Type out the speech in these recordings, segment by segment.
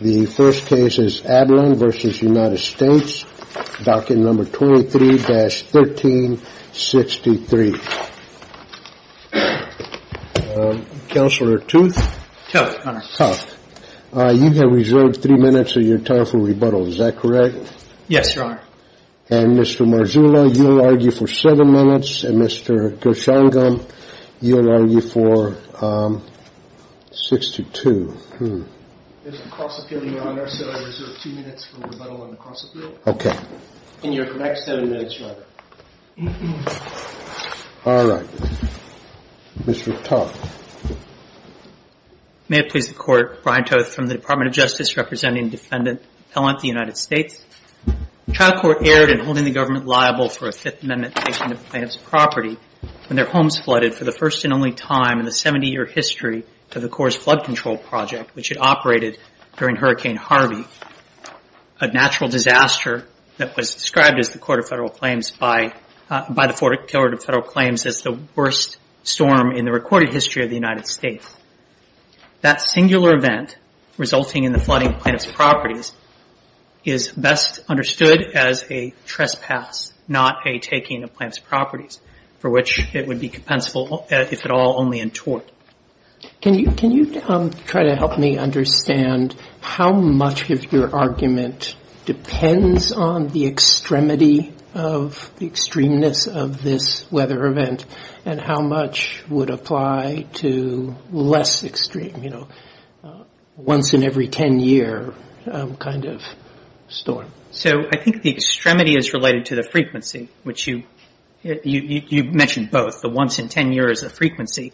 23-1363. Counselor Tooth? Yes, your honor. You have reserved three minutes of your time for rebuttal, is that correct? Yes, your honor. And Mr. Marzullo you will argue for seven minutes and Mr. Gershongan, you will argue for 6-2. There is a cross-appeal, your honor, so I reserve two minutes for rebuttal on the cross-appeal. Okay. And you have the next seven minutes, your honor. All right. Mr. Toth? May it please the court, Brian Toth from the Department of Justice, representing Defendant Pellant, the United States. The trial court erred in holding the government liable for a Fifth Amendment taking of a plaintiff's property when their homes flooded for the first and only time in the 70-year history of the Coors Flood Control Project, which had operated during Hurricane Harvey, a natural disaster that was described by the Court of Federal Claims as the worst storm in the recorded history of the United States. That singular event, resulting in the flooding of plaintiff's properties, is best understood as a trespass, not a taking of plaintiff's properties, for which it would be compensable if at all only in tort. Can you try to help me understand how much of your argument depends on the extremity of the extremeness of this weather event, and how much would apply to less extreme, you know, once in every ten year kind of storm? So I think the extremity is related to the frequency, which you mentioned both, the once in ten year as a frequency.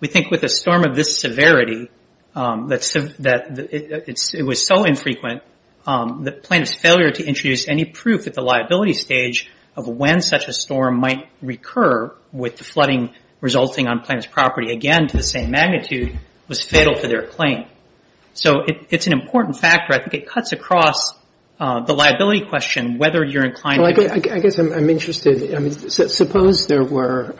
We think with a storm of this severity, that it was so infrequent that plaintiff's failure to introduce any proof at the liability stage of when such a storm might recur with the flooding resulting on plaintiff's property, again to the same magnitude, was fatal to their claim. So it's an important factor. I think it cuts across the liability question, whether you're inclined to do it. I guess I'm interested, I mean, suppose there were,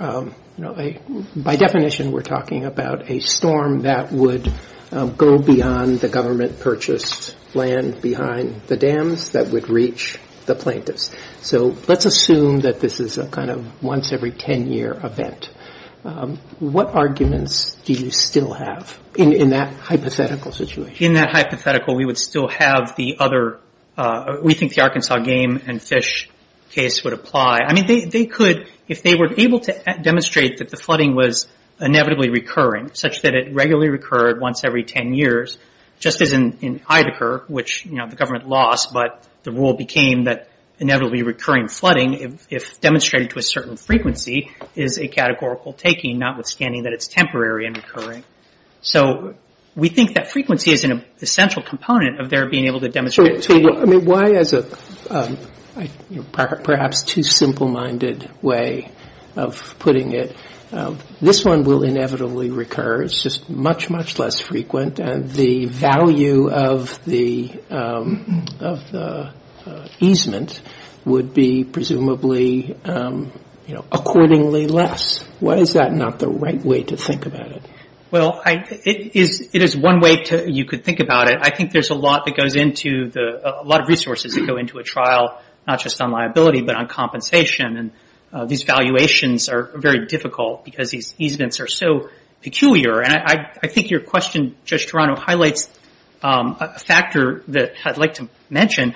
you know, by definition we're talking about a storm that would go beyond the government purchased land behind the dams that would reach the plaintiffs. So let's assume that this is a kind of once every ten year event. What arguments do you still have in that hypothetical situation? In that hypothetical, we would still have the other, we think the Arkansas game and fish case would apply. I mean, they could, if they were able to demonstrate that the flooding was inevitably recurring, such that it regularly recurred once every ten years, just as in Idaho, which, you know, the government lost, but the rule became that inevitably recurring flooding, if demonstrated to a certain frequency, is a categorical taking, notwithstanding that it's temporary and recurring. So we think that frequency is an essential component of their being able to demonstrate it. So, I mean, why as a, you know, perhaps too simple minded way of putting it, this one will inevitably recur. It's just much, much less frequent. And the value of the easement would be presumably, you know, accordingly less. Why is that not the right way to think about it? Well, I, it is, it is one way to, you could think about it. I think there's a lot that goes into the, a lot of resources that go into a trial, not just on liability, but on compensation. And these valuations are very difficult, because these easements are so peculiar. And I think your question, Judge Toronto, highlights a factor that I'd like to mention.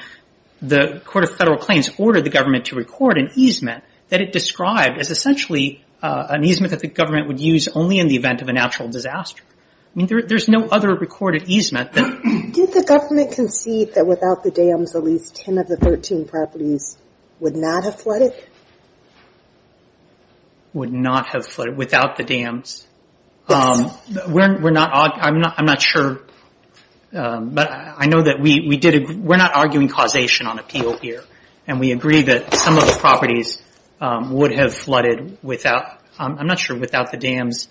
The Court of Federal Claims ordered the government to record an easement that it described as essentially an easement that the government would use only in the event of a natural disaster. I mean, there's no other recorded easement that... Did the government concede that without the dams, at least 10 of the 13 properties would not have flooded? Would not have flooded, without the dams? Yes. We're not, I'm not sure, but I know that we did, we're not arguing causation on appeal here. And we agree that some of the properties would have flooded without, I'm not sure, without the dams.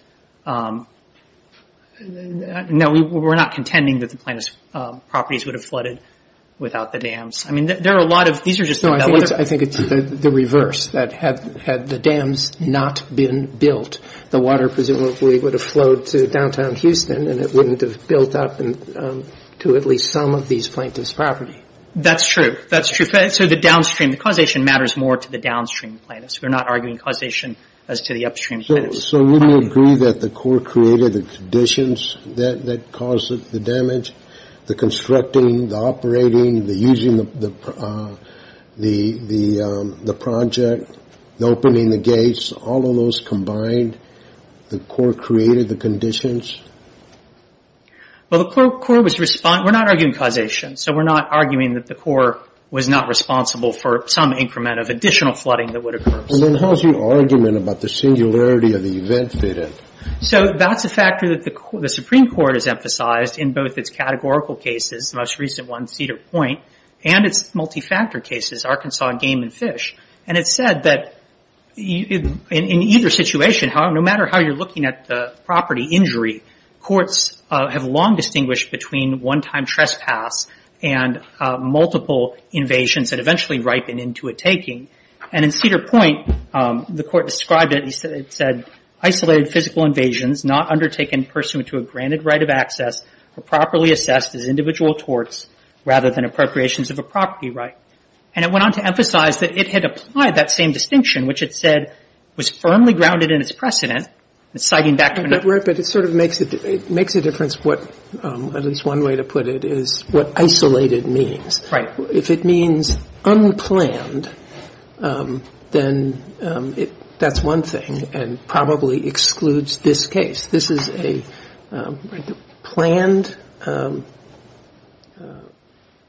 No, we're not contending that the plaintiff's properties would have flooded without the dams. I mean, there are a lot of, these are just... No, I think it's the reverse, that had the dams not been built, the water presumably would have flowed to downtown Houston, and it wouldn't have built up to at least some of these plaintiffs' property. That's true. That's true. So the downstream, the causation matters more to the downstream plaintiffs. We're not arguing causation as to the upstream plaintiffs. So wouldn't you agree that the court created the conditions that caused the damage, the constructing, the operating, the using the project, the opening the gates, all of those combined, the court created the conditions? Well, the court was, we're not arguing causation. So we're not arguing that the court was not responsible for some increment of additional flooding that would occur. And then how's your argument about the singularity of the event data? So that's a factor that the Supreme Court has emphasized in both its categorical cases, the most recent one, Cedar Point, and its multi-factor cases, Arkansas, Game and Fish. And it said that in either situation, no matter how you're looking at the property injury, courts have long distinguished between one-time trespass and multiple invasions that eventually ripen into a taking. And in Cedar Point, the court described it, it said, isolated physical invasions not undertaken pursuant to a granted right of access are properly assessed as individual torts rather than appropriations of a property right. And it went on to emphasize that it had applied that same distinction, which it said was firmly grounded in its precedent, citing back to another. Right, but it sort of makes a difference what, at least one way to put it, is what isolated means. If it means unplanned, then that's one thing and probably excludes this case. This is a planned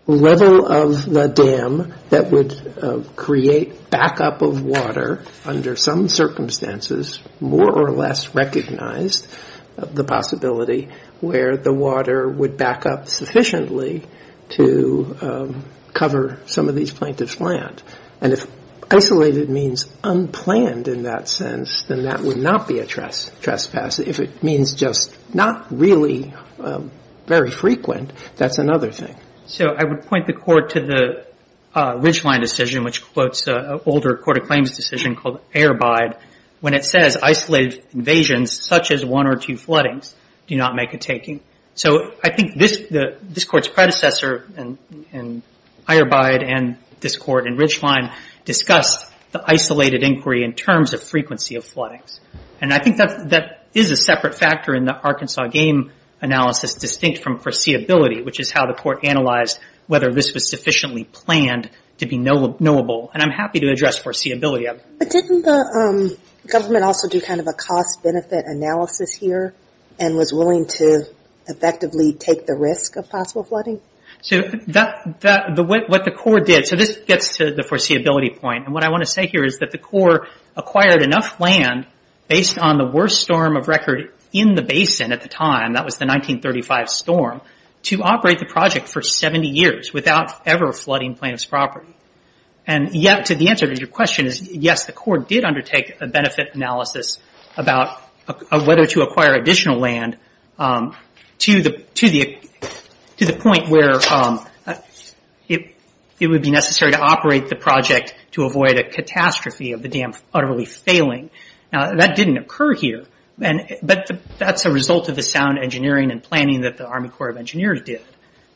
level of the dam that would create backup of water under some circumstances, more or less recognized the possibility where the water would back up sufficiently to cover some of these plaintiffs' land. And if isolated means unplanned in that sense, then that would not be a trespass. If it means just not really very frequent, that's another thing. So I would point the court to the Ridgeline decision, which quotes an older court of claims decision called Ehrbeid, when it says isolated invasions such as one or two floodings do not make a taking. So I think this court's predecessor in Ehrbeid and this court in Ridgeline discussed the isolated inquiry in terms of frequency of floodings. And I think that is a separate factor in the Arkansas game analysis distinct from foreseeability, which is how the court analyzed whether this was sufficiently planned to be knowable. And I'm happy to address foreseeability. But didn't the government also do kind of a cost benefit analysis here and was willing to effectively take the risk of possible flooding? What the court did, so this gets to the foreseeability point. And what I want to say here is that the court acquired enough land based on the worst storm of record in the basin at the time, that was the 1935 storm, to operate the project for 70 years without ever flooding plaintiff's property. And yet to the answer to your question is yes, the court did undertake a benefit analysis about whether to acquire additional land to the point where it would be necessary to operate the project to avoid a catastrophe of the dam utterly failing. Now that didn't occur here, but that's a result of the sound engineering and planning that the Army Corps of Engineers did.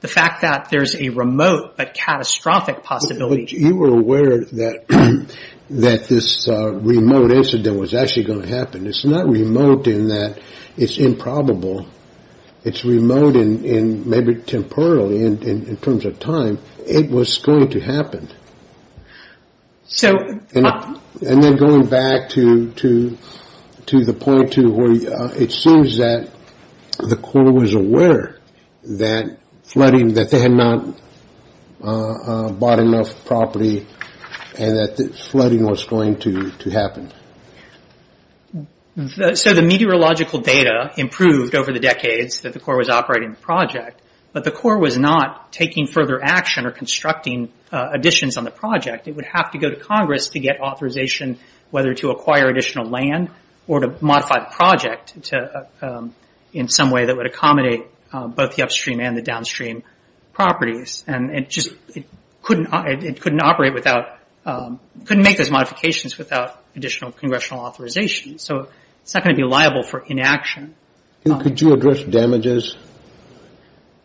The fact that there's a remote but catastrophic possibility. You were aware that this remote incident was actually going to happen. It's not remote in that it's improbable. It's remote in maybe temporarily in terms of time. It was going to happen. And then going back to the point to where it seems that the court was bought enough property and that flooding was going to happen. So the meteorological data improved over the decades that the Corps was operating the project, but the Corps was not taking further action or constructing additions on the project. It would have to go to Congress to get authorization whether to acquire additional land or to modify the project in some way that would accommodate both the upstream and the downstream properties. And it just couldn't operate without, couldn't make those modifications without additional congressional authorization. So it's not going to be liable for inaction. Could you address damages?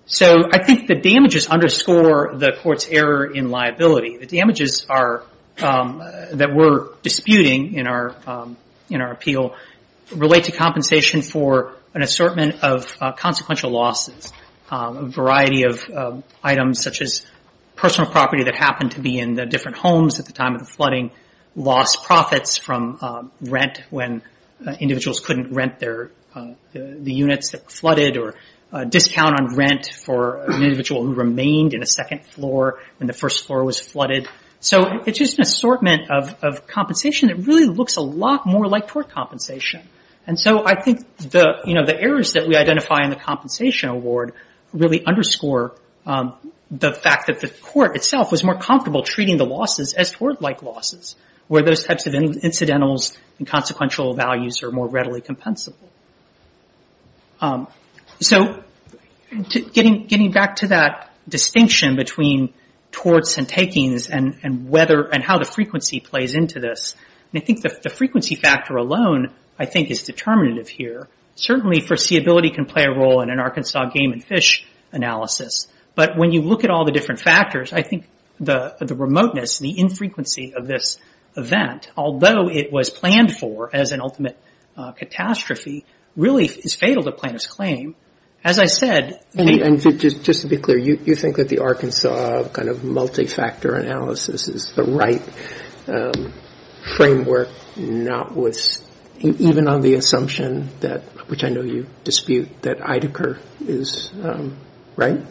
So I think the damages underscore the court's error in liability. The damages are, that we're disputing in our appeal, relate to compensation for an assortment of consequential losses. A variety of items such as personal property that happened to be in the different homes at the time of the flooding, lost profits from rent when individuals couldn't rent their, the units that flooded, or discount on rent for an individual who remained in a second floor when the first floor was flooded. So it's just an assortment of compensation that really looks a lot more like tort compensation. And so I think the errors that we identify in the compensation award really underscore the fact that the court itself was more comfortable treating the losses as tort-like losses where those types of incidentals and consequential values are more readily compensable. So getting back to that distinction between torts and takings and how the frequency plays into this, I think the frequency factor alone I think is determinative here. Certainly foreseeability can play a role in an Arkansas game and fish analysis, but when you look at all the different factors, I think the remoteness, the infrequency of this event, although it was planned for as an ultimate catastrophe, really is fatal to plaintiff's claim. As I said, And just to be clear, you think that the Arkansas kind of multi-factor analysis is the right framework, even on the assumption that, which I know you dispute, that Idacar is right?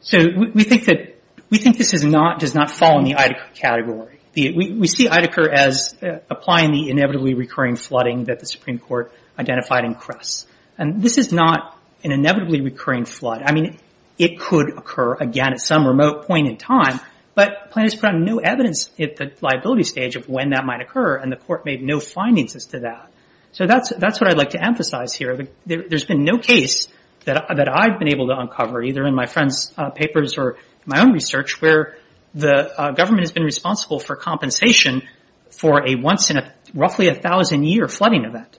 So we think this does not fall in the Idacar category. We see Idacar as applying the inevitably recurring flooding that the Supreme Court identified in Cress. And this is not an inevitably recurring flood. I mean, it could occur again at some remote point in time, but plaintiffs found no evidence at the liability stage of when that might occur, and the court made no findings as to that. So that's what I'd like to emphasize here. There's been no case that I've been able to uncover, either in my friend's papers or my own research, where the government has been responsible for compensation for a once in roughly a thousand year flooding event.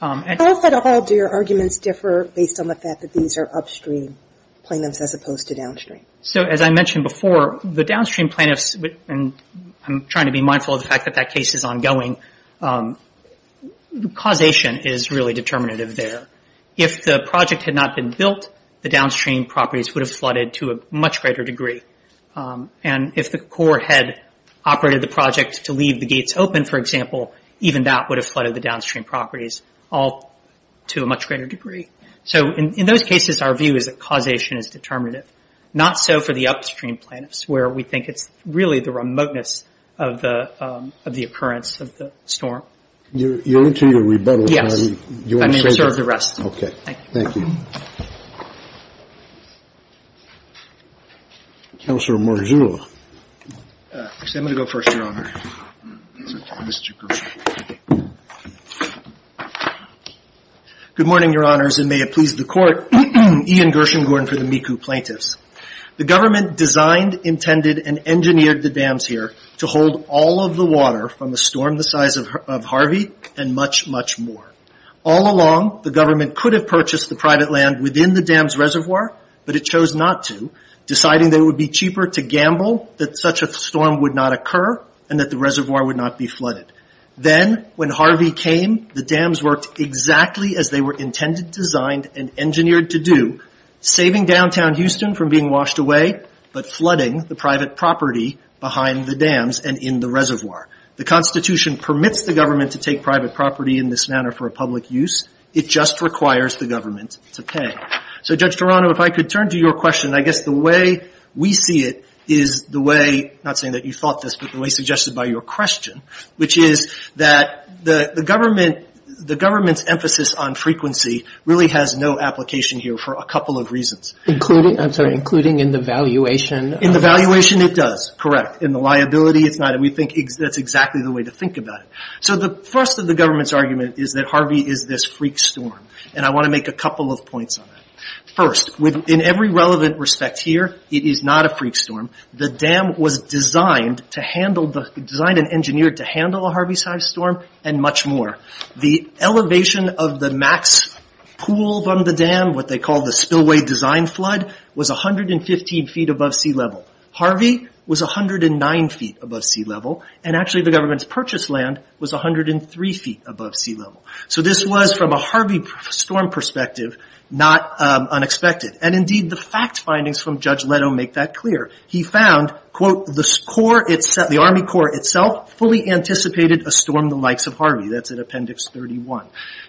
How at all do your arguments differ based on the fact that these are upstream plaintiffs as opposed to downstream? So as I mentioned before, the downstream plaintiffs, and I'm trying to be mindful of the fact that that case is ongoing, causation is really determinative there. If the project had not been built, the downstream properties would have flooded to a much greater degree. And if the court had operated the project to leave the gates open, for example, even that would have flooded the downstream properties, all to a much greater degree. So in those cases, our view is that causation is determinative. Not so for the upstream plaintiffs, where we think it's really the remoteness of the occurrence of the storm. You're into your rebuttal time? Yes. I may reserve the rest. Okay. Thank you. Counselor Marzullo. Actually, I'm going to go first, Your Honor. Mr. Gershengorn. Good morning, Your Honors, and may it please the court. Ian Gershengorn for the Miku Plaintiffs. The government designed, intended, and engineered the dams here to hold all of the water from a storm the size of Harvey and much, much more. All along, the government could have purchased the private land within the dam's reservoir, but it chose not to, deciding that it would be cheaper to gamble, that such a storm would not occur, and that the reservoir would not be flooded. Then, when Harvey came, the dams worked exactly as they were intended, designed, and engineered to do, saving downtown Houston from being washed away, but flooding the private property behind the dams and in the reservoir. The Constitution permits the government to take private property in this manner for public use. It just requires the government to pay. So, Judge Toronto, if I could turn to your question. I guess the way we see it is the way, not saying that you thought this, but the way suggested by your question, which is that the government's emphasis on frequency really has no application here for a couple of reasons. Including, I'm sorry, including in the valuation. In the valuation, it does, correct. In the liability, it's not. We think that's exactly the way to think about it. So the thrust of the government's argument is that Harvey is this freak storm, and I want to make a couple of points on that. First, in every relevant respect here, it is not a freak storm. The dam was designed to handle, designed and engineered to handle a Harvey-sized storm, and much more. The elevation of the max pool from the dam, what they call the spillway design flood, was 115 feet above sea level. Harvey was 109 feet above sea level, and actually the government's purchase land was 103 feet above sea level. So this was, from a Harvey storm perspective, not unexpected. And indeed, the fact findings from Judge Leto make that clear. He found, quote, the Army Corps itself fully anticipated a storm the likes of Harvey. That's in Appendix 31.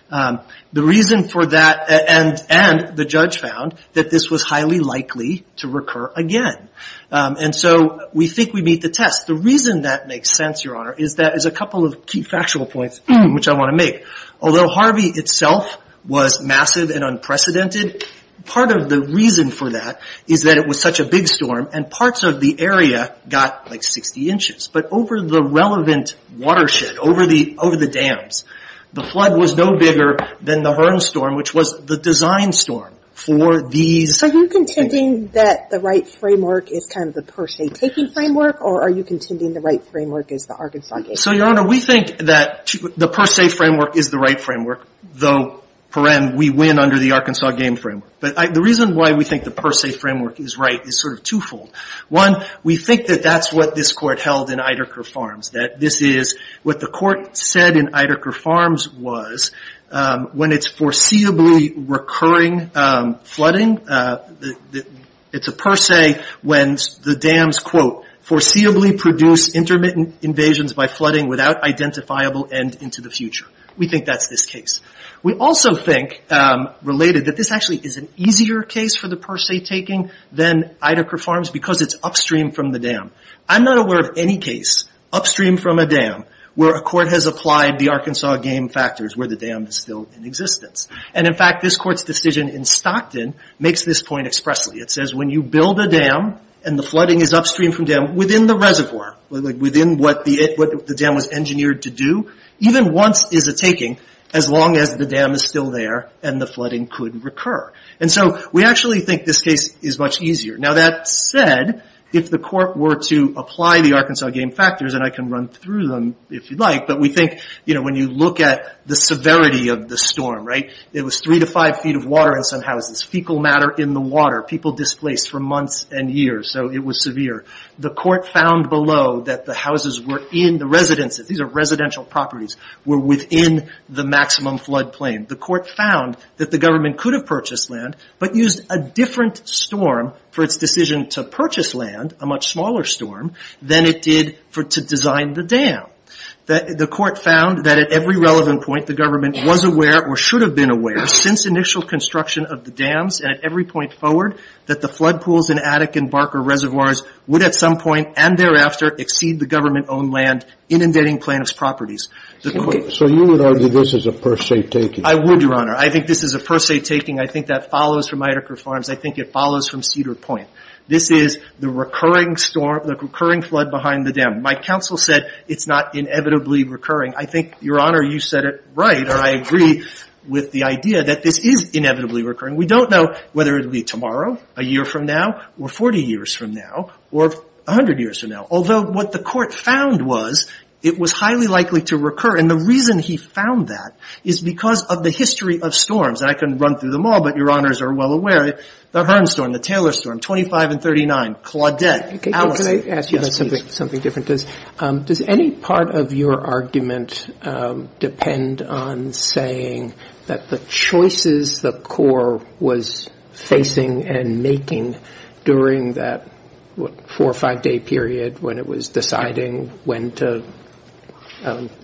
The reason for that, and the judge found, that this was highly likely to recur again. And so we think we meet the test. The reason that makes sense, Your Honor, is that as a couple of key factual points, which I want to make. Although Harvey itself was massive and unprecedented, part of the reason for that is that it was such a big storm, and parts of the area got like 60 inches. But over the relevant watershed, over the dams, the flood was no bigger than the Hearn storm, which was the design storm for these- Are you contending that the right framework is kind of the per se taking framework, or are you contending the right framework is the Arkansas case? So, Your Honor, we think that the per se framework is the right framework, though, per em, we win under the Arkansas game framework. But the reason why we think the per se framework is right is sort of twofold. One, we think that that's what this Court held in Idaho Farms, that this is what the Court said in Idaho Farms was, when it's foreseeably recurring flooding, it's a per se when the dams, quote, foreseeably produce intermittent invasions by flooding without identifiable end into the future. We think that's this case. We also think, related, that this actually is an easier case for the per se taking than Idaho Farms because it's upstream from the dam. I'm not aware of any case upstream from a dam where a court has applied the Arkansas game factors where the dam is still in existence. And in fact, this Court's decision in Stockton makes this point expressly. It says when you build a dam and the flooding is upstream from the dam, within the reservoir, within what the dam was engineered to do, even once is a taking as long as the dam is still there and the flooding could recur. And so we actually think this case is much easier. Now, that said, if the Court were to apply the Arkansas game factors, and I can run through them if you'd like, but we think, you know, when you look at the severity of the storm, right, it was three to five feet of water in some houses, fecal matter in the water, people displaced for months and years, so it was severe. The Court found below that the houses were in the residences, these are residential properties, were within the maximum flood plain. The Court found that the government could have purchased land but used a different storm for its decision to purchase land, a much smaller storm, than it did to design the dam. The Court found that at every relevant point, the government was aware or should have been aware, since initial construction of the dams and at every point forward, that the flood pools in Attica and Barker Reservoirs would at some point and thereafter exceed the government-owned land inundating plaintiff's properties. So you would argue this is a per se taking? I would, Your Honor. I think this is a per se taking. I think that follows from Idaker Farms. I think it follows from Cedar Point. This is the recurring flood behind the dam. My counsel said it's not inevitably recurring. I think, Your Honor, you said it right and I agree with the idea that this is inevitably recurring. We don't know whether it will be tomorrow, a year from now, or 40 years from now, or 100 years from now. Although what the Court found was it was highly likely to recur. And the reason he found that is because of the history of storms. And I can run through them all, but Your Honors are well aware. The Herms storm, the Taylor storm, 25 and 39, Claudette, Allison. Can I ask you something different? Does any part of your argument depend on saying that the choices the Court was facing and making during that four or five day period when it was deciding when to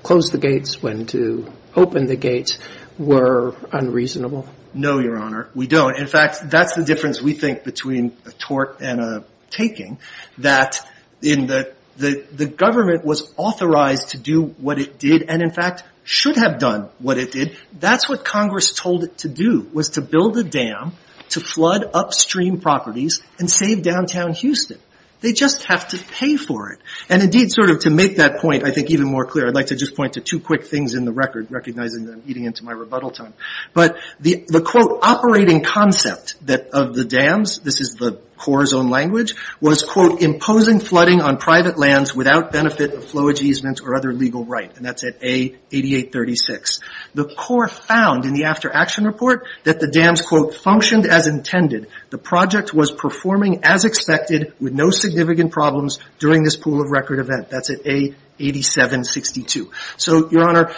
close the gates, when to open the gates, were unreasonable? No, Your Honor. We don't. In fact, that's the difference, we think, between a tort and a taking, that the government was authorized to do what it did and, in fact, should have done what it did. That's what Congress told it to do, was to build a dam to flood upstream properties and save downtown Houston. They just have to pay for it. And indeed, sort of to make that point, I think, even more clear, I'd like to just point to two quick things in the record, recognizing that I'm eating into my rebuttal time. But the, quote, operating concept of the dams, this is the CORE's own language, was, quote, imposing flooding on private lands without benefit of flowage easement or other legal right. And that's at A8836. The CORE found in the after action report that the dams, quote, functioned as intended. The project was performing as expected with no significant problems during this pool of record event. That's at A8762. So, Your Honor,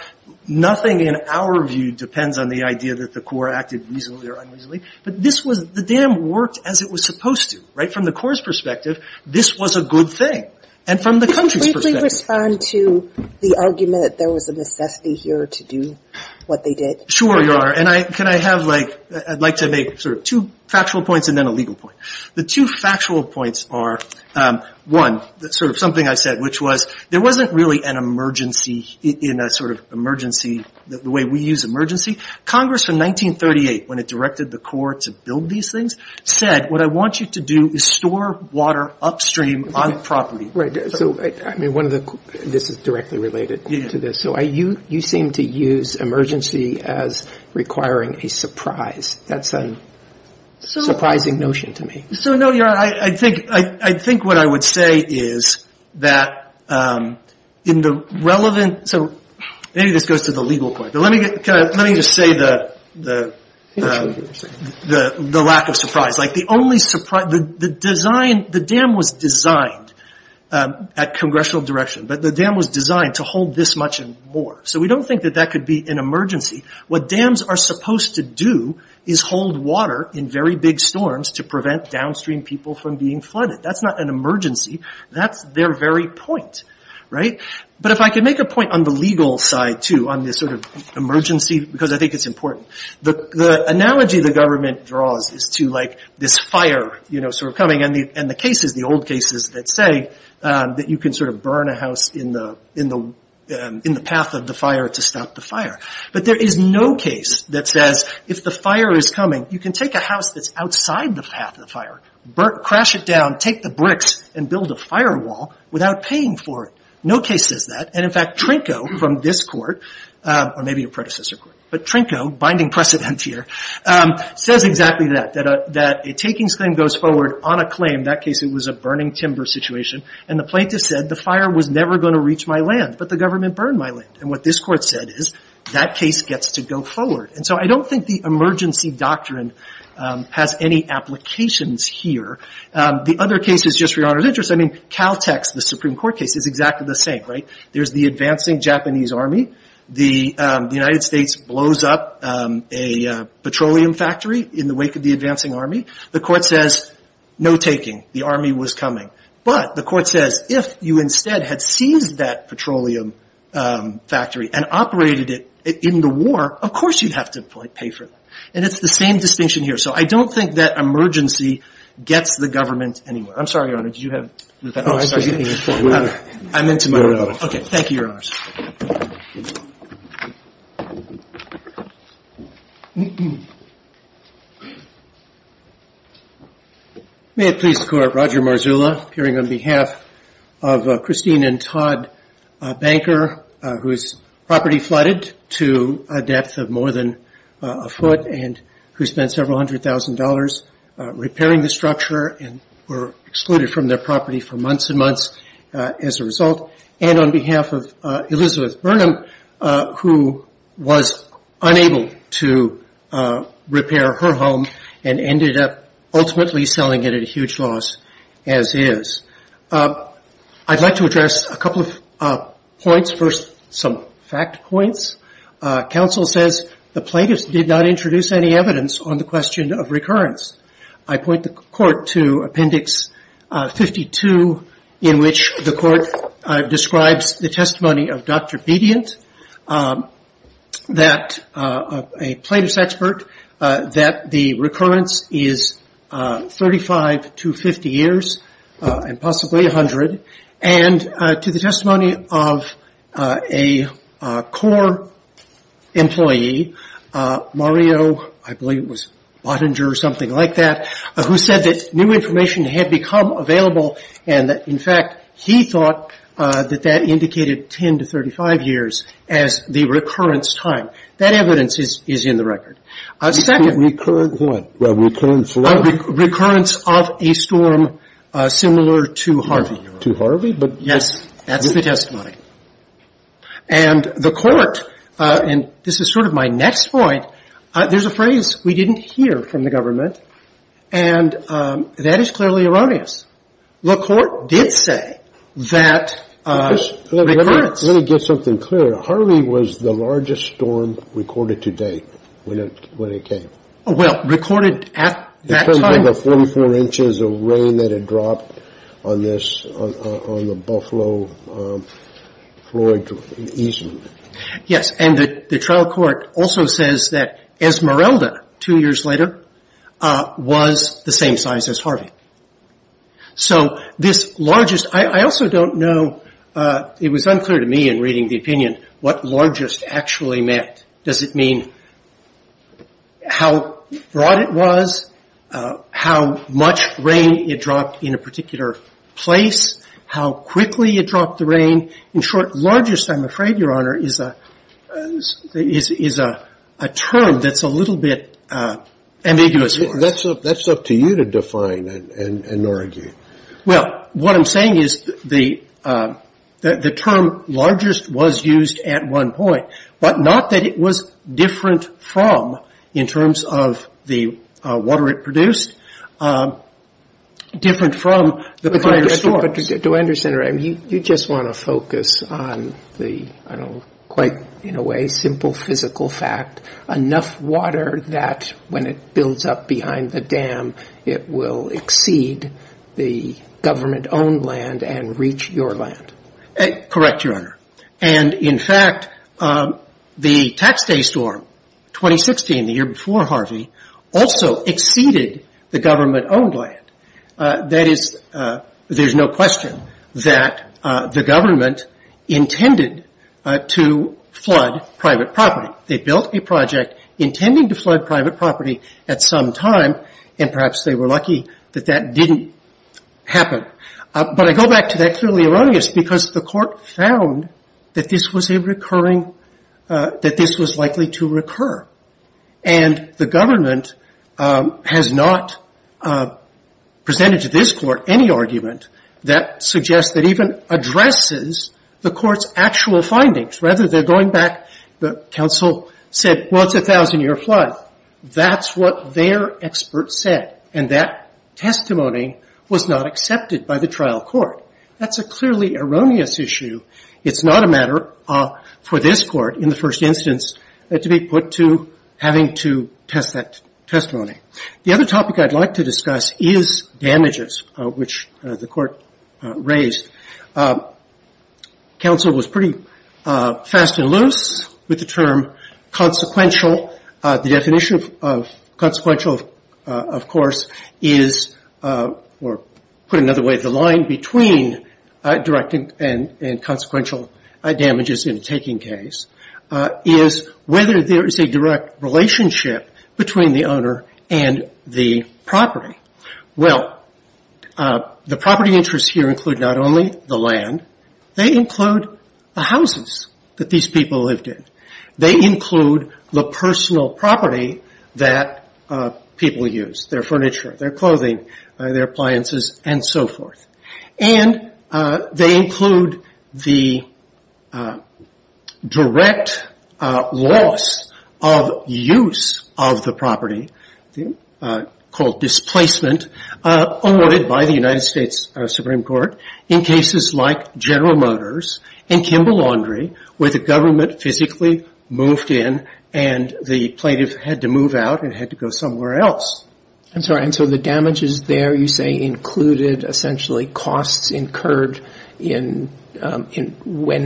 nothing in our view depends on the idea that the CORE acted reasonably or unreasonably. But this was, the dam worked as it was supposed to. Right? From the CORE's perspective, this was a good thing. And from the country's perspective. Could you briefly respond to the argument that there was a necessity here to do what they did? Sure, Your Honor. And I, can I have, like, I'd like to make sort of two factual points and then a legal point. The two factual points are, one, sort of something I said, which was, there wasn't really an emergency in a sort of emergency, the way we use emergency. Congress from 1938, when it directed the CORE to build these things, said, what I want you to do is store water upstream on property. Right. So, I mean, one of the, this is directly related to this. So, you seem to use emergency as requiring a surprise. That's a surprising notion to me. So, no, Your Honor, I think, I think what I would say is that in the relevant, so, maybe this goes to the legal point. But let me, let me just say the, the lack of surprise. Like, the only surprise, the design, the dam was designed at congressional direction. But the dam was designed to hold this much and more. So, we don't think that that could be an emergency. What dams are supposed to do is hold water in very big storms to prevent downstream people from being flooded. That's not an emergency. That's their very point. Right. But if I could make a point on the legal side, too, on this sort of emergency, because I think it's important. The, the analogy the government draws is to, like, this fire, you know, sort of coming. And the, and the cases, the old cases that say that you can sort of burn a house in the, in the, in the path of the fire to stop the fire. But there is no case that says, if the fire is coming, you can take a house that's outside the path of the fire, burn, crash it down, take the bricks, and build a firewall without paying for it. No case says that. And, in fact, Trinko, from this court, or maybe a predecessor court, but Trinko, binding precedent here, says exactly that. That a, that a takings claim goes forward on a claim. In that case, it was a burning timber situation. And the plaintiff said, the fire was never going to reach my land, but the government burned my land. And what this court said is, that case gets to go forward. And so, I don't think the emergency doctrine has any applications here. The other cases, just for your honor's interest, I mean, Caltech's, the Supreme Court case, is exactly the same, right? There's the advancing Japanese army. The, the United States blows up a petroleum factory in the wake of the advancing army. The court says, no taking. The army was coming. But the court says, if you instead had seized that petroleum factory and operated it in the war, of course you'd have to pay for it. And it's the same distinction here. So, I don't think that emergency gets the government anywhere. I'm sorry, your honor, did you have, oh, sorry. I'm into my role. Okay. Thank you, your honors. May it please the court, Roger Marzulla, appearing on behalf of Christine and Todd Banker, whose property flooded to a depth of more than a foot and who spent several hundred thousand dollars repairing the structure and were excluded from their property for months and months as a result. And on behalf of Elizabeth Burnham, who was unable to repair her home and ended up ultimately selling it at a huge loss, as is. I'd like to address a couple of points. First, some fact points. Counsel says the plaintiffs did not introduce any evidence on the question of recurrence. I point the court to Appendix 52, in which the court describes the testimony of Dr. Bediant, that, a plaintiff's expert, that the recurrence is 35 to 50 years, and possibly 100, and to the testimony of a core employee, Mario, I believe it was Bottinger or something like that, who said that new information had become available and that, in fact, he thought that that indicated 10 to 35 years as the recurrence time. That evidence is in the record. Second — Recurrence of what? Recurrence of what? Recurrence of a storm similar to Harvey. To Harvey? But — Yes. That's the testimony. And the court — and this is sort of my next point — there's a phrase we didn't hear from the government, and that is clearly erroneous. The court did say that recurrence — Let me get something clear. Harvey was the largest storm recorded to date, when it came. Well, recorded at that time — It turned into 44 inches of rain that had dropped on this — on the Buffalo, Floyd, and Eastman. Yes. And the trial court also says that Esmeralda, two years later, was the same size as Harvey. So this largest — I also don't know — it was unclear to me in reading the opinion what largest actually meant. Does it mean how broad it was, how much rain it dropped in a particular place, how quickly it dropped the rain? In short, largest, I'm afraid, Your Honor, is a term that's a little bit ambiguous for us. That's up to you to define and argue. Well, what I'm saying is the term largest was used at one point, but not that it was different from, in terms of the water it produced, different from the prior storms. But do I understand, Your Honor, you just want to focus on the, I don't know, quite in a way, simple physical fact, enough water that when it builds up behind the dam, it will exceed the government-owned land and reach your land? Correct, Your Honor. And in fact, the Tax Day storm, 2016, the year before Harvey, also exceeded the government-owned land. That is, there's no question that the government intended to flood private property. They built a project intending to flood private property at some time, and perhaps they were lucky that that didn't happen. But I go back to that clearly erroneous, because the Court found that this was a recurring, that this was likely to recur. And the government has not presented to this Court any argument that suggests that even addresses the Court's actual findings. Rather, they're going back, the counsel said, well, it's a thousand-year flood. That's what their expert said, and that testimony was not accepted by the trial court. That's a clearly erroneous issue. It's not a matter for this Court, in the first instance, to be put to having to test that The other topic I'd like to discuss is damages, which the Court raised. Counsel was pretty fast and loose with the term consequential. The definition of consequential, of course, is, or put another way, the line between direct and consequential damages in a taking case, is whether there is a direct relationship between the owner and the property. Well, the property interests here include not only the land, they include the houses that these people lived in. They include the personal property that people used, their furniture, their clothing, their appliances, and so forth. And they include the direct loss of use of the property, called displacement, awarded by the United States Supreme Court in cases like General Motors and Kimball Laundry, where the government physically moved in and the plaintiff had to move out and had to go somewhere else. I'm sorry, and so the damages there, you say, included, essentially, costs incurred when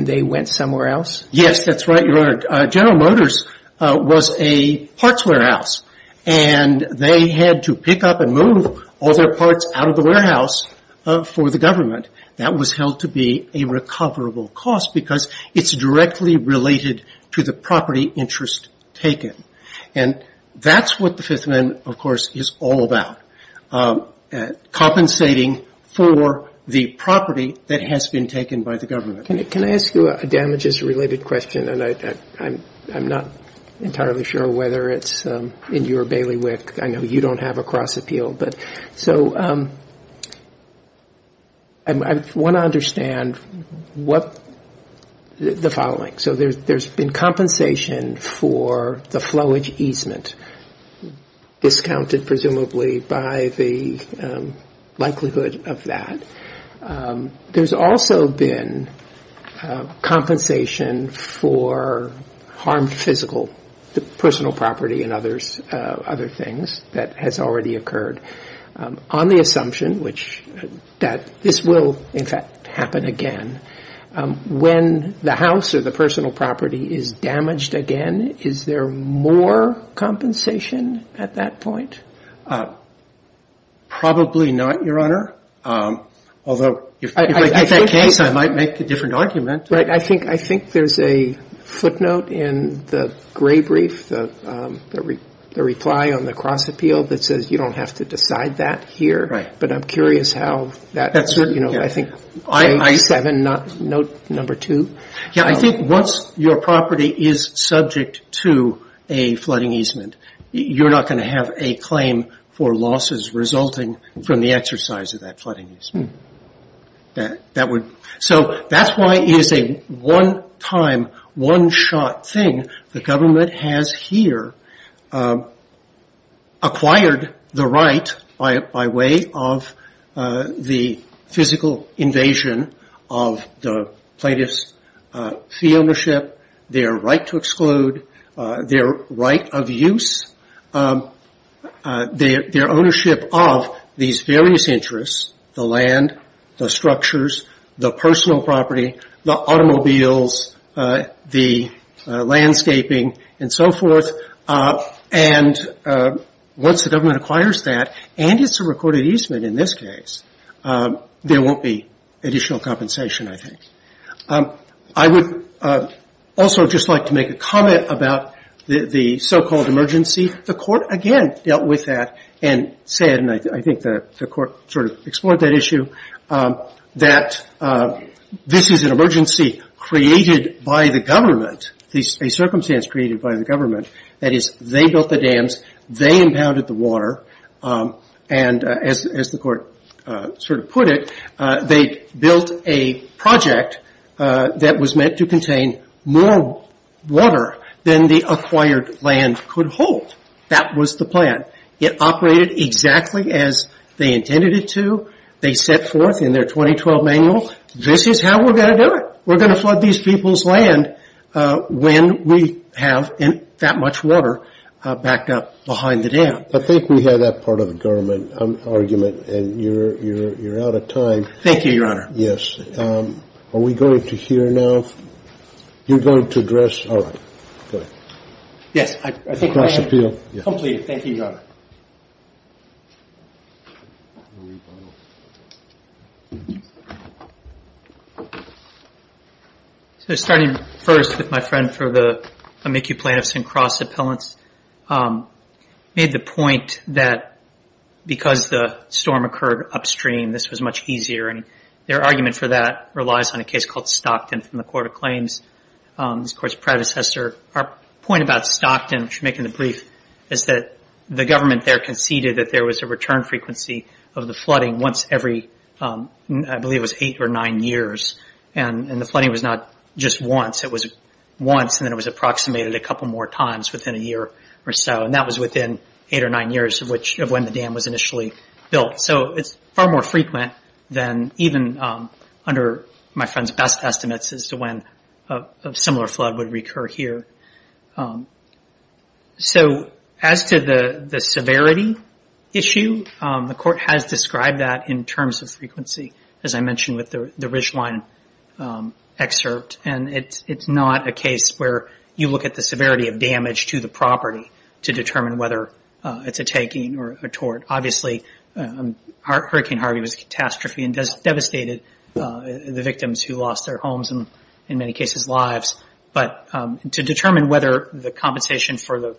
they went somewhere else? Yes, that's right, Your Honor. General Motors was a parts warehouse, and they had to pick up and move all their parts out of the warehouse for the government. That was held to be a And that's what the Fifth Amendment, of course, is all about, compensating for the property that has been taken by the government. Can I ask you a damages-related question? And I'm not entirely sure whether it's in your bailiwick. I know you don't have a cross appeal. So I want to understand the following. So there's been compensation for the flowage easement, discounted, presumably, by the likelihood of that. There's also been compensation for harmed physical, the personal property and other things that has already occurred, on the assumption that this will, in fact, happen again. When the house or the personal property is damaged again, is there more compensation at that point? Probably not, Your Honor. Although, if I get that case, I might make a different argument. Right. I think there's a footnote in the gray brief, the reply on the cross appeal that says you don't have to decide that here. But I'm curious how that, you know, I think I think once your property is subject to a flooding easement, you're not going to have a claim for losses resulting from the exercise of that flooding easement. So that's why it is a one-time, one-shot thing. The government has here acquired the right, by way of the physical invasion of the plaintiff's fee ownership, their right to exclude, their right of use, their ownership of these various interests, the land, the structures, the personal property, the automobiles, the landscaping, and so forth. And once the government acquires that, and it's a recorded easement in this case, there won't be additional compensation, I think. I would also just like to make a comment about the so-called emergency. The court again dealt with that and said, and I think the court sort of explored that issue, that this is an emergency created by the government, a circumstance created by the government, that they built the dams, they impounded the water, and as the court sort of put it, they built a project that was meant to contain more water than the acquired land could hold. That was the plan. It operated exactly as they intended it to. They set forth in their 2012 manual, this is how we're going to do it. We're going to flood these people's land when we have that much water backed up behind the dam. I think we have that part of the government argument, and you're out of time. Thank you, Your Honor. Yes. Are we going to hear now? You're going to address? All right. Go ahead. Yes, I think I am. Cross-appeal? Completed. Thank you, Your Honor. Starting first with my friend for the Amici Plaintiffs and Cross-Appellants, made the point that because the storm occurred upstream, this was much easier. Their argument for that relies on a case called Stockton from the Court of Claims, this court's predecessor. Our point about Stockton, which you make in the brief, is that the government there conceded that there was a return frequency of the flooding once every, I believe it was eight or nine years. The flooding was not just once. It was once, and then it was approximated a couple more times within a year or so. That was within eight or nine years of when the dam was initially built. It's far more frequent than even under my friend's best estimates as to when a similar flood would recur here. As to the severity issue, the court has described that in terms of frequency, as I mentioned with the Ridgeline excerpt. It's not a case where you look at the severity of damage to the property to determine whether it's a taking or a tort. Obviously, Hurricane Harvey was a catastrophe and devastated the victims who lost their homes and, in many cases, lives. But to determine whether the compensation for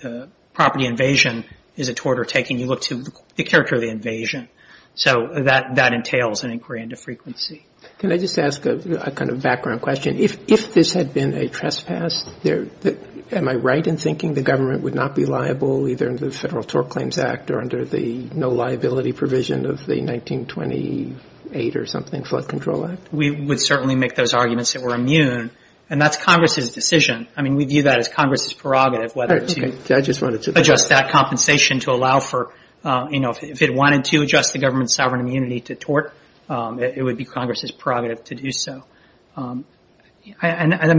the property invasion is a tort or taking, you look to the character of the invasion. So that entails an inquiry into frequency. Can I just ask a kind of background question? If this had been a trespass, am I right in thinking the government would not be liable either under the Federal Tort Claims Act or under the no liability provision of the 1928 or something Flood Control Act? We would certainly make those arguments that we're immune. And that's Congress's decision. I mean, we view that as Congress's prerogative whether to adjust that compensation to allow for, you know, if it wanted to adjust the government's sovereign immunity to tort, it would be Congress's prerogative to do so. And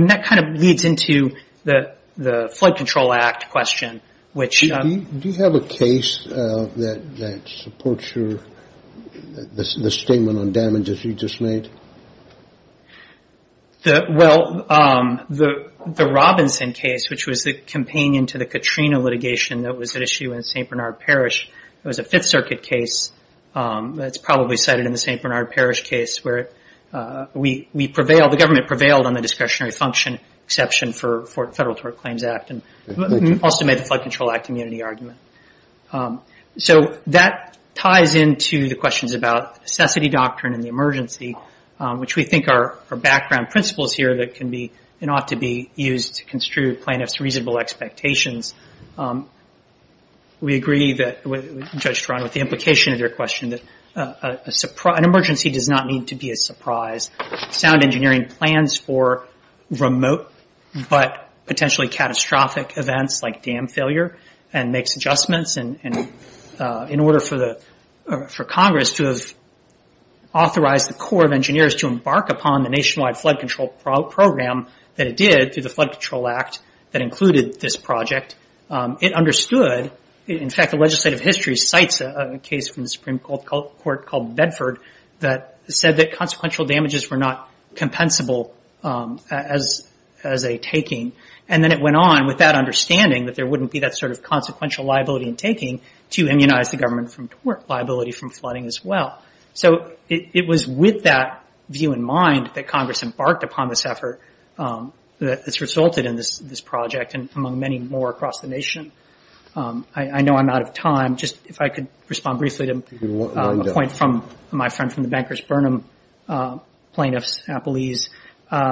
that kind of leads into the Flood Control Act question, which... Do you have a case that supports the statement on damages you just made? Well, the Robinson case, which was the companion to the Katrina litigation that was at issue in St. Bernard Parish, it was a Fifth Circuit case that's probably cited in the St. Bernard Parish case where we prevailed, the government prevailed on the discretionary function exception for Federal Tort Claims Act and also made the Flood Control Act immunity argument. So, that ties into the questions about necessity doctrine in the emergency, which we think are background principles here that can be and ought to be used to construe plaintiff's reasonable expectations. We agree that, Judge Torano, with the implication of your question that an emergency does not need to be a surprise. Sound engineering plans for remote but potentially catastrophic events like dam failure and makes adjustments in order for Congress to have authorized the Corps of Engineers to embark upon the Nationwide Flood Control Program that it did through the Flood Control Act that included this project. It understood... In fact, the legislative history cites a case from the Supreme Court called Bedford that said that consequential damages were not compensable as a taking and then it went on with that understanding that there wouldn't be that sort of consequential liability in taking to immunize the government from liability from flooding as well. So, it was with that view in mind that Congress embarked upon this effort that's resulted in this project and among many more across the Nation. I know I'm out of time. Just if I could respond briefly to a point from my friend from the Bankers Burnham plaintiff's appellees.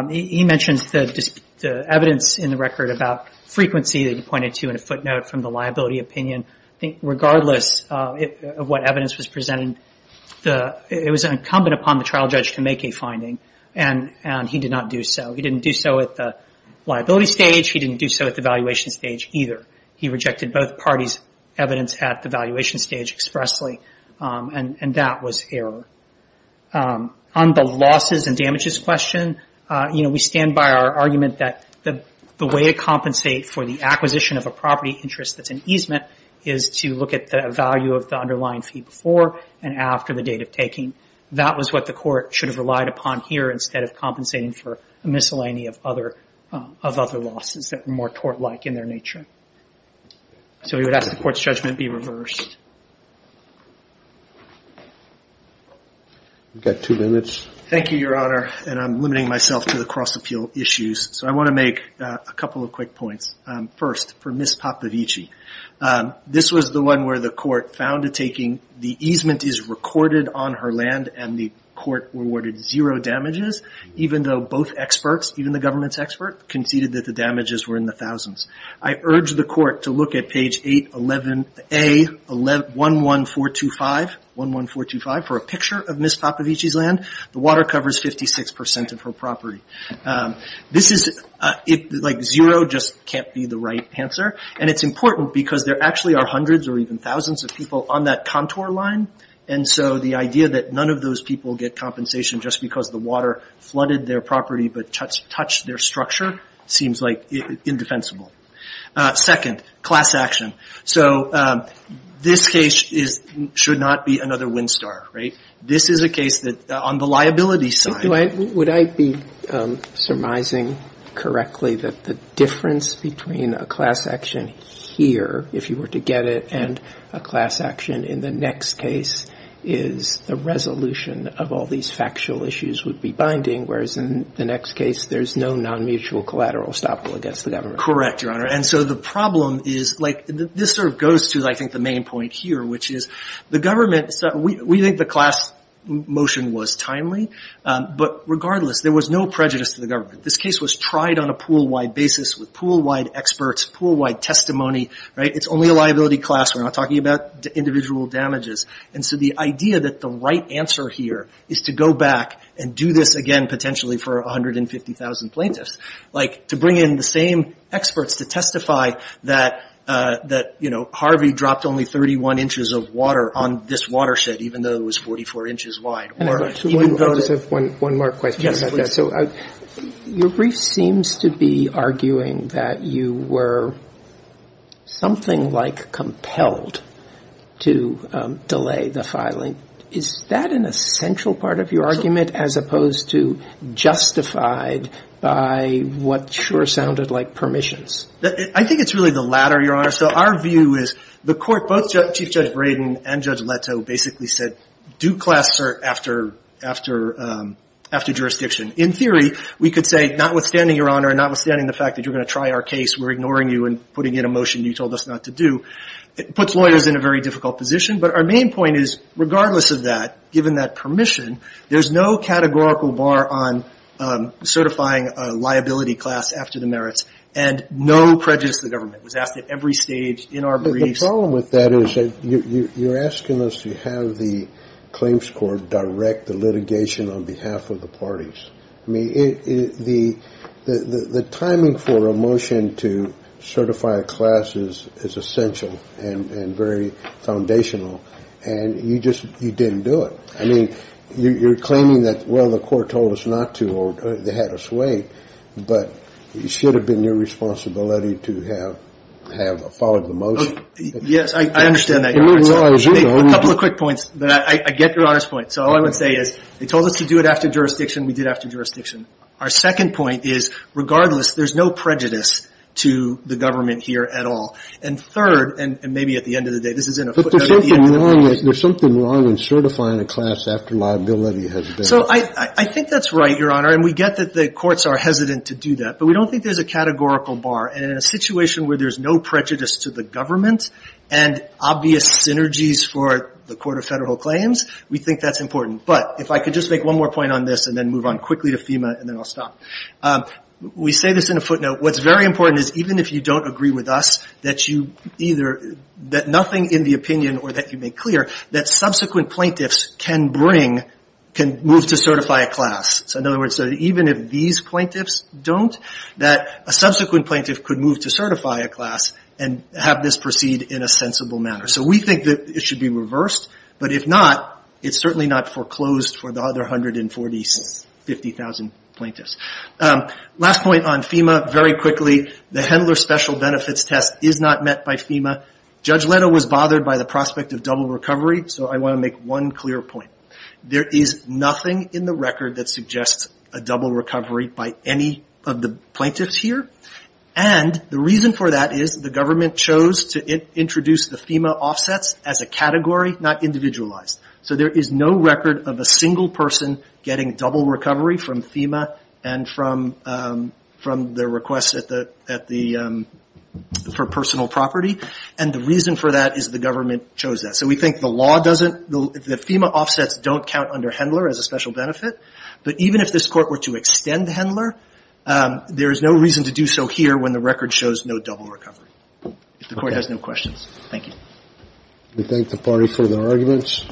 He mentions the evidence in the record about frequency that he pointed to in a footnote from the liability opinion. I think regardless of what evidence was presented, it was incumbent upon the trial judge to make a finding and he did not do so. He didn't do so at the liability stage. He didn't do so at the valuation stage either. He rejected both parties' evidence at the valuation stage expressly and that was error. On the losses and damages question, we stand by our argument that the way to compensate for the acquisition of a property interest that's an easement is to look at the value of the underlying fee before and after the date of taking. That was what the court should have relied upon here instead of compensating for a miscellany of other losses that were more tort-like in their nature. So, we would ask the court's judgment be reversed. We've got two minutes. Thank you, Your Honor, and I'm limiting myself to the cross-appeal issues. So, I want to make a couple of quick points. First, for Ms. Popovich, this was the one where the court found a taking, the easement is recorded on her land and the court awarded zero damages even though both experts, even the government's expert, conceded that the damages were in the thousands. I urge the court to look at page 811A11425 for a picture of Ms. Popovich's land. The water covers 56% of her property. Zero just can't be the right answer and it's important because there are hundreds or even thousands of people on that contour line. And so, the idea that none of those people get compensation just because the water flooded their property but touched their structure seems like indefensible. Second, class action. So, this case should not be another wind star, right? This is a case that on the liability side. Would I be surmising correctly that the difference between a class action here, if you were to get it, and a class action in the next case is the resolution of all these factual issues would be binding, whereas in the next case, there's no non-mutual collateral estoppel against the government? Correct, Your Honor. And so, the problem is, like, this sort of goes to, I think, the main point here, which is the government, we think the class motion was timely, but regardless, there was no prejudice to the experts, pool-wide testimony, right? It's only a liability class. We're not talking about individual damages. And so, the idea that the right answer here is to go back and do this again, potentially, for 150,000 plaintiffs. Like, to bring in the same experts to testify that, you know, Harvey dropped only 31 inches of water on this watershed, even though it was 44 inches wide. One more question about that. Your brief seems to be arguing that you were something like compelled to delay the filing. Is that an essential part of your argument, as opposed to justified by what sure sounded like permissions? I think it's really the latter, Your Honor. So, our view is, the court, both Chief Judge Braden and Judge Leto basically said, do class cert after jurisdiction. In theory, we could say, notwithstanding, Your Honor, notwithstanding the fact that you're going to try our case, we're ignoring you and putting in a motion you told us not to do, it puts lawyers in a very difficult position. But our main point is, regardless of that, given that permission, there's no categorical bar on certifying a liability class after the merits and no prejudice to the government. It was asked at every stage in our briefs. The problem with that is that you're asking us to have the claims court direct the litigation on behalf of the parties. I mean, the timing for a motion to certify a class is essential and very foundational. And you just, you didn't do it. I mean, you're claiming that, well, the court told us not to or they had us wait, but it should have been your responsibility to have followed the motion. Yes, I understand that, Your Honor. A couple of quick points. I get Your Honor's point. So all I would say is, they told us to do it after jurisdiction, we did it after jurisdiction. Our second point is, regardless, there's no prejudice to the government here at all. And third, and maybe at the end of the day, this isn't a footnote. There's something wrong in certifying a class after liability has been. So I think that's right, Your Honor, and we get that the courts are hesitant to do that, but we don't think there's a categorical bar. And in a situation where there's no prejudice to the government and obvious synergies for the Court of Federal Claims, we think that's important. But if I could just make one more point on this and then move on quickly to FEMA and then I'll stop. We say this in a footnote. What's very important is, even if you don't agree with us, that you either, that nothing in the opinion or that you make clear, that subsequent plaintiffs can bring, can move to certify a class. So in other words, even if these plaintiffs don't, that a subsequent plaintiff could move to certify a class and have this proceed in a sensible manner. So we think that it should be reversed, but if not, it's certainly not foreclosed for the other 140,000, 50,000 plaintiffs. Last point on FEMA, very quickly, the Hendler Special Benefits Test is not met by FEMA. Judge Leno was bothered by the prospect of double recovery, so I want to make one clear point. There is nothing in the record that suggests a double recovery by any of the plaintiffs here. And the reason for that is the government chose to introduce the FEMA offsets as a category, not individualized. So there is no record of a single person getting double recovery from FEMA and from their requests for personal property. And the reason for that is the government chose that. So we think the law doesn't, the FEMA offsets don't count under Hendler as a special benefit. But even if this Court were to extend Hendler, there is no reason to do so here when the record shows no double recovery. If the Court has no questions. Thank you. We thank the party for their arguments.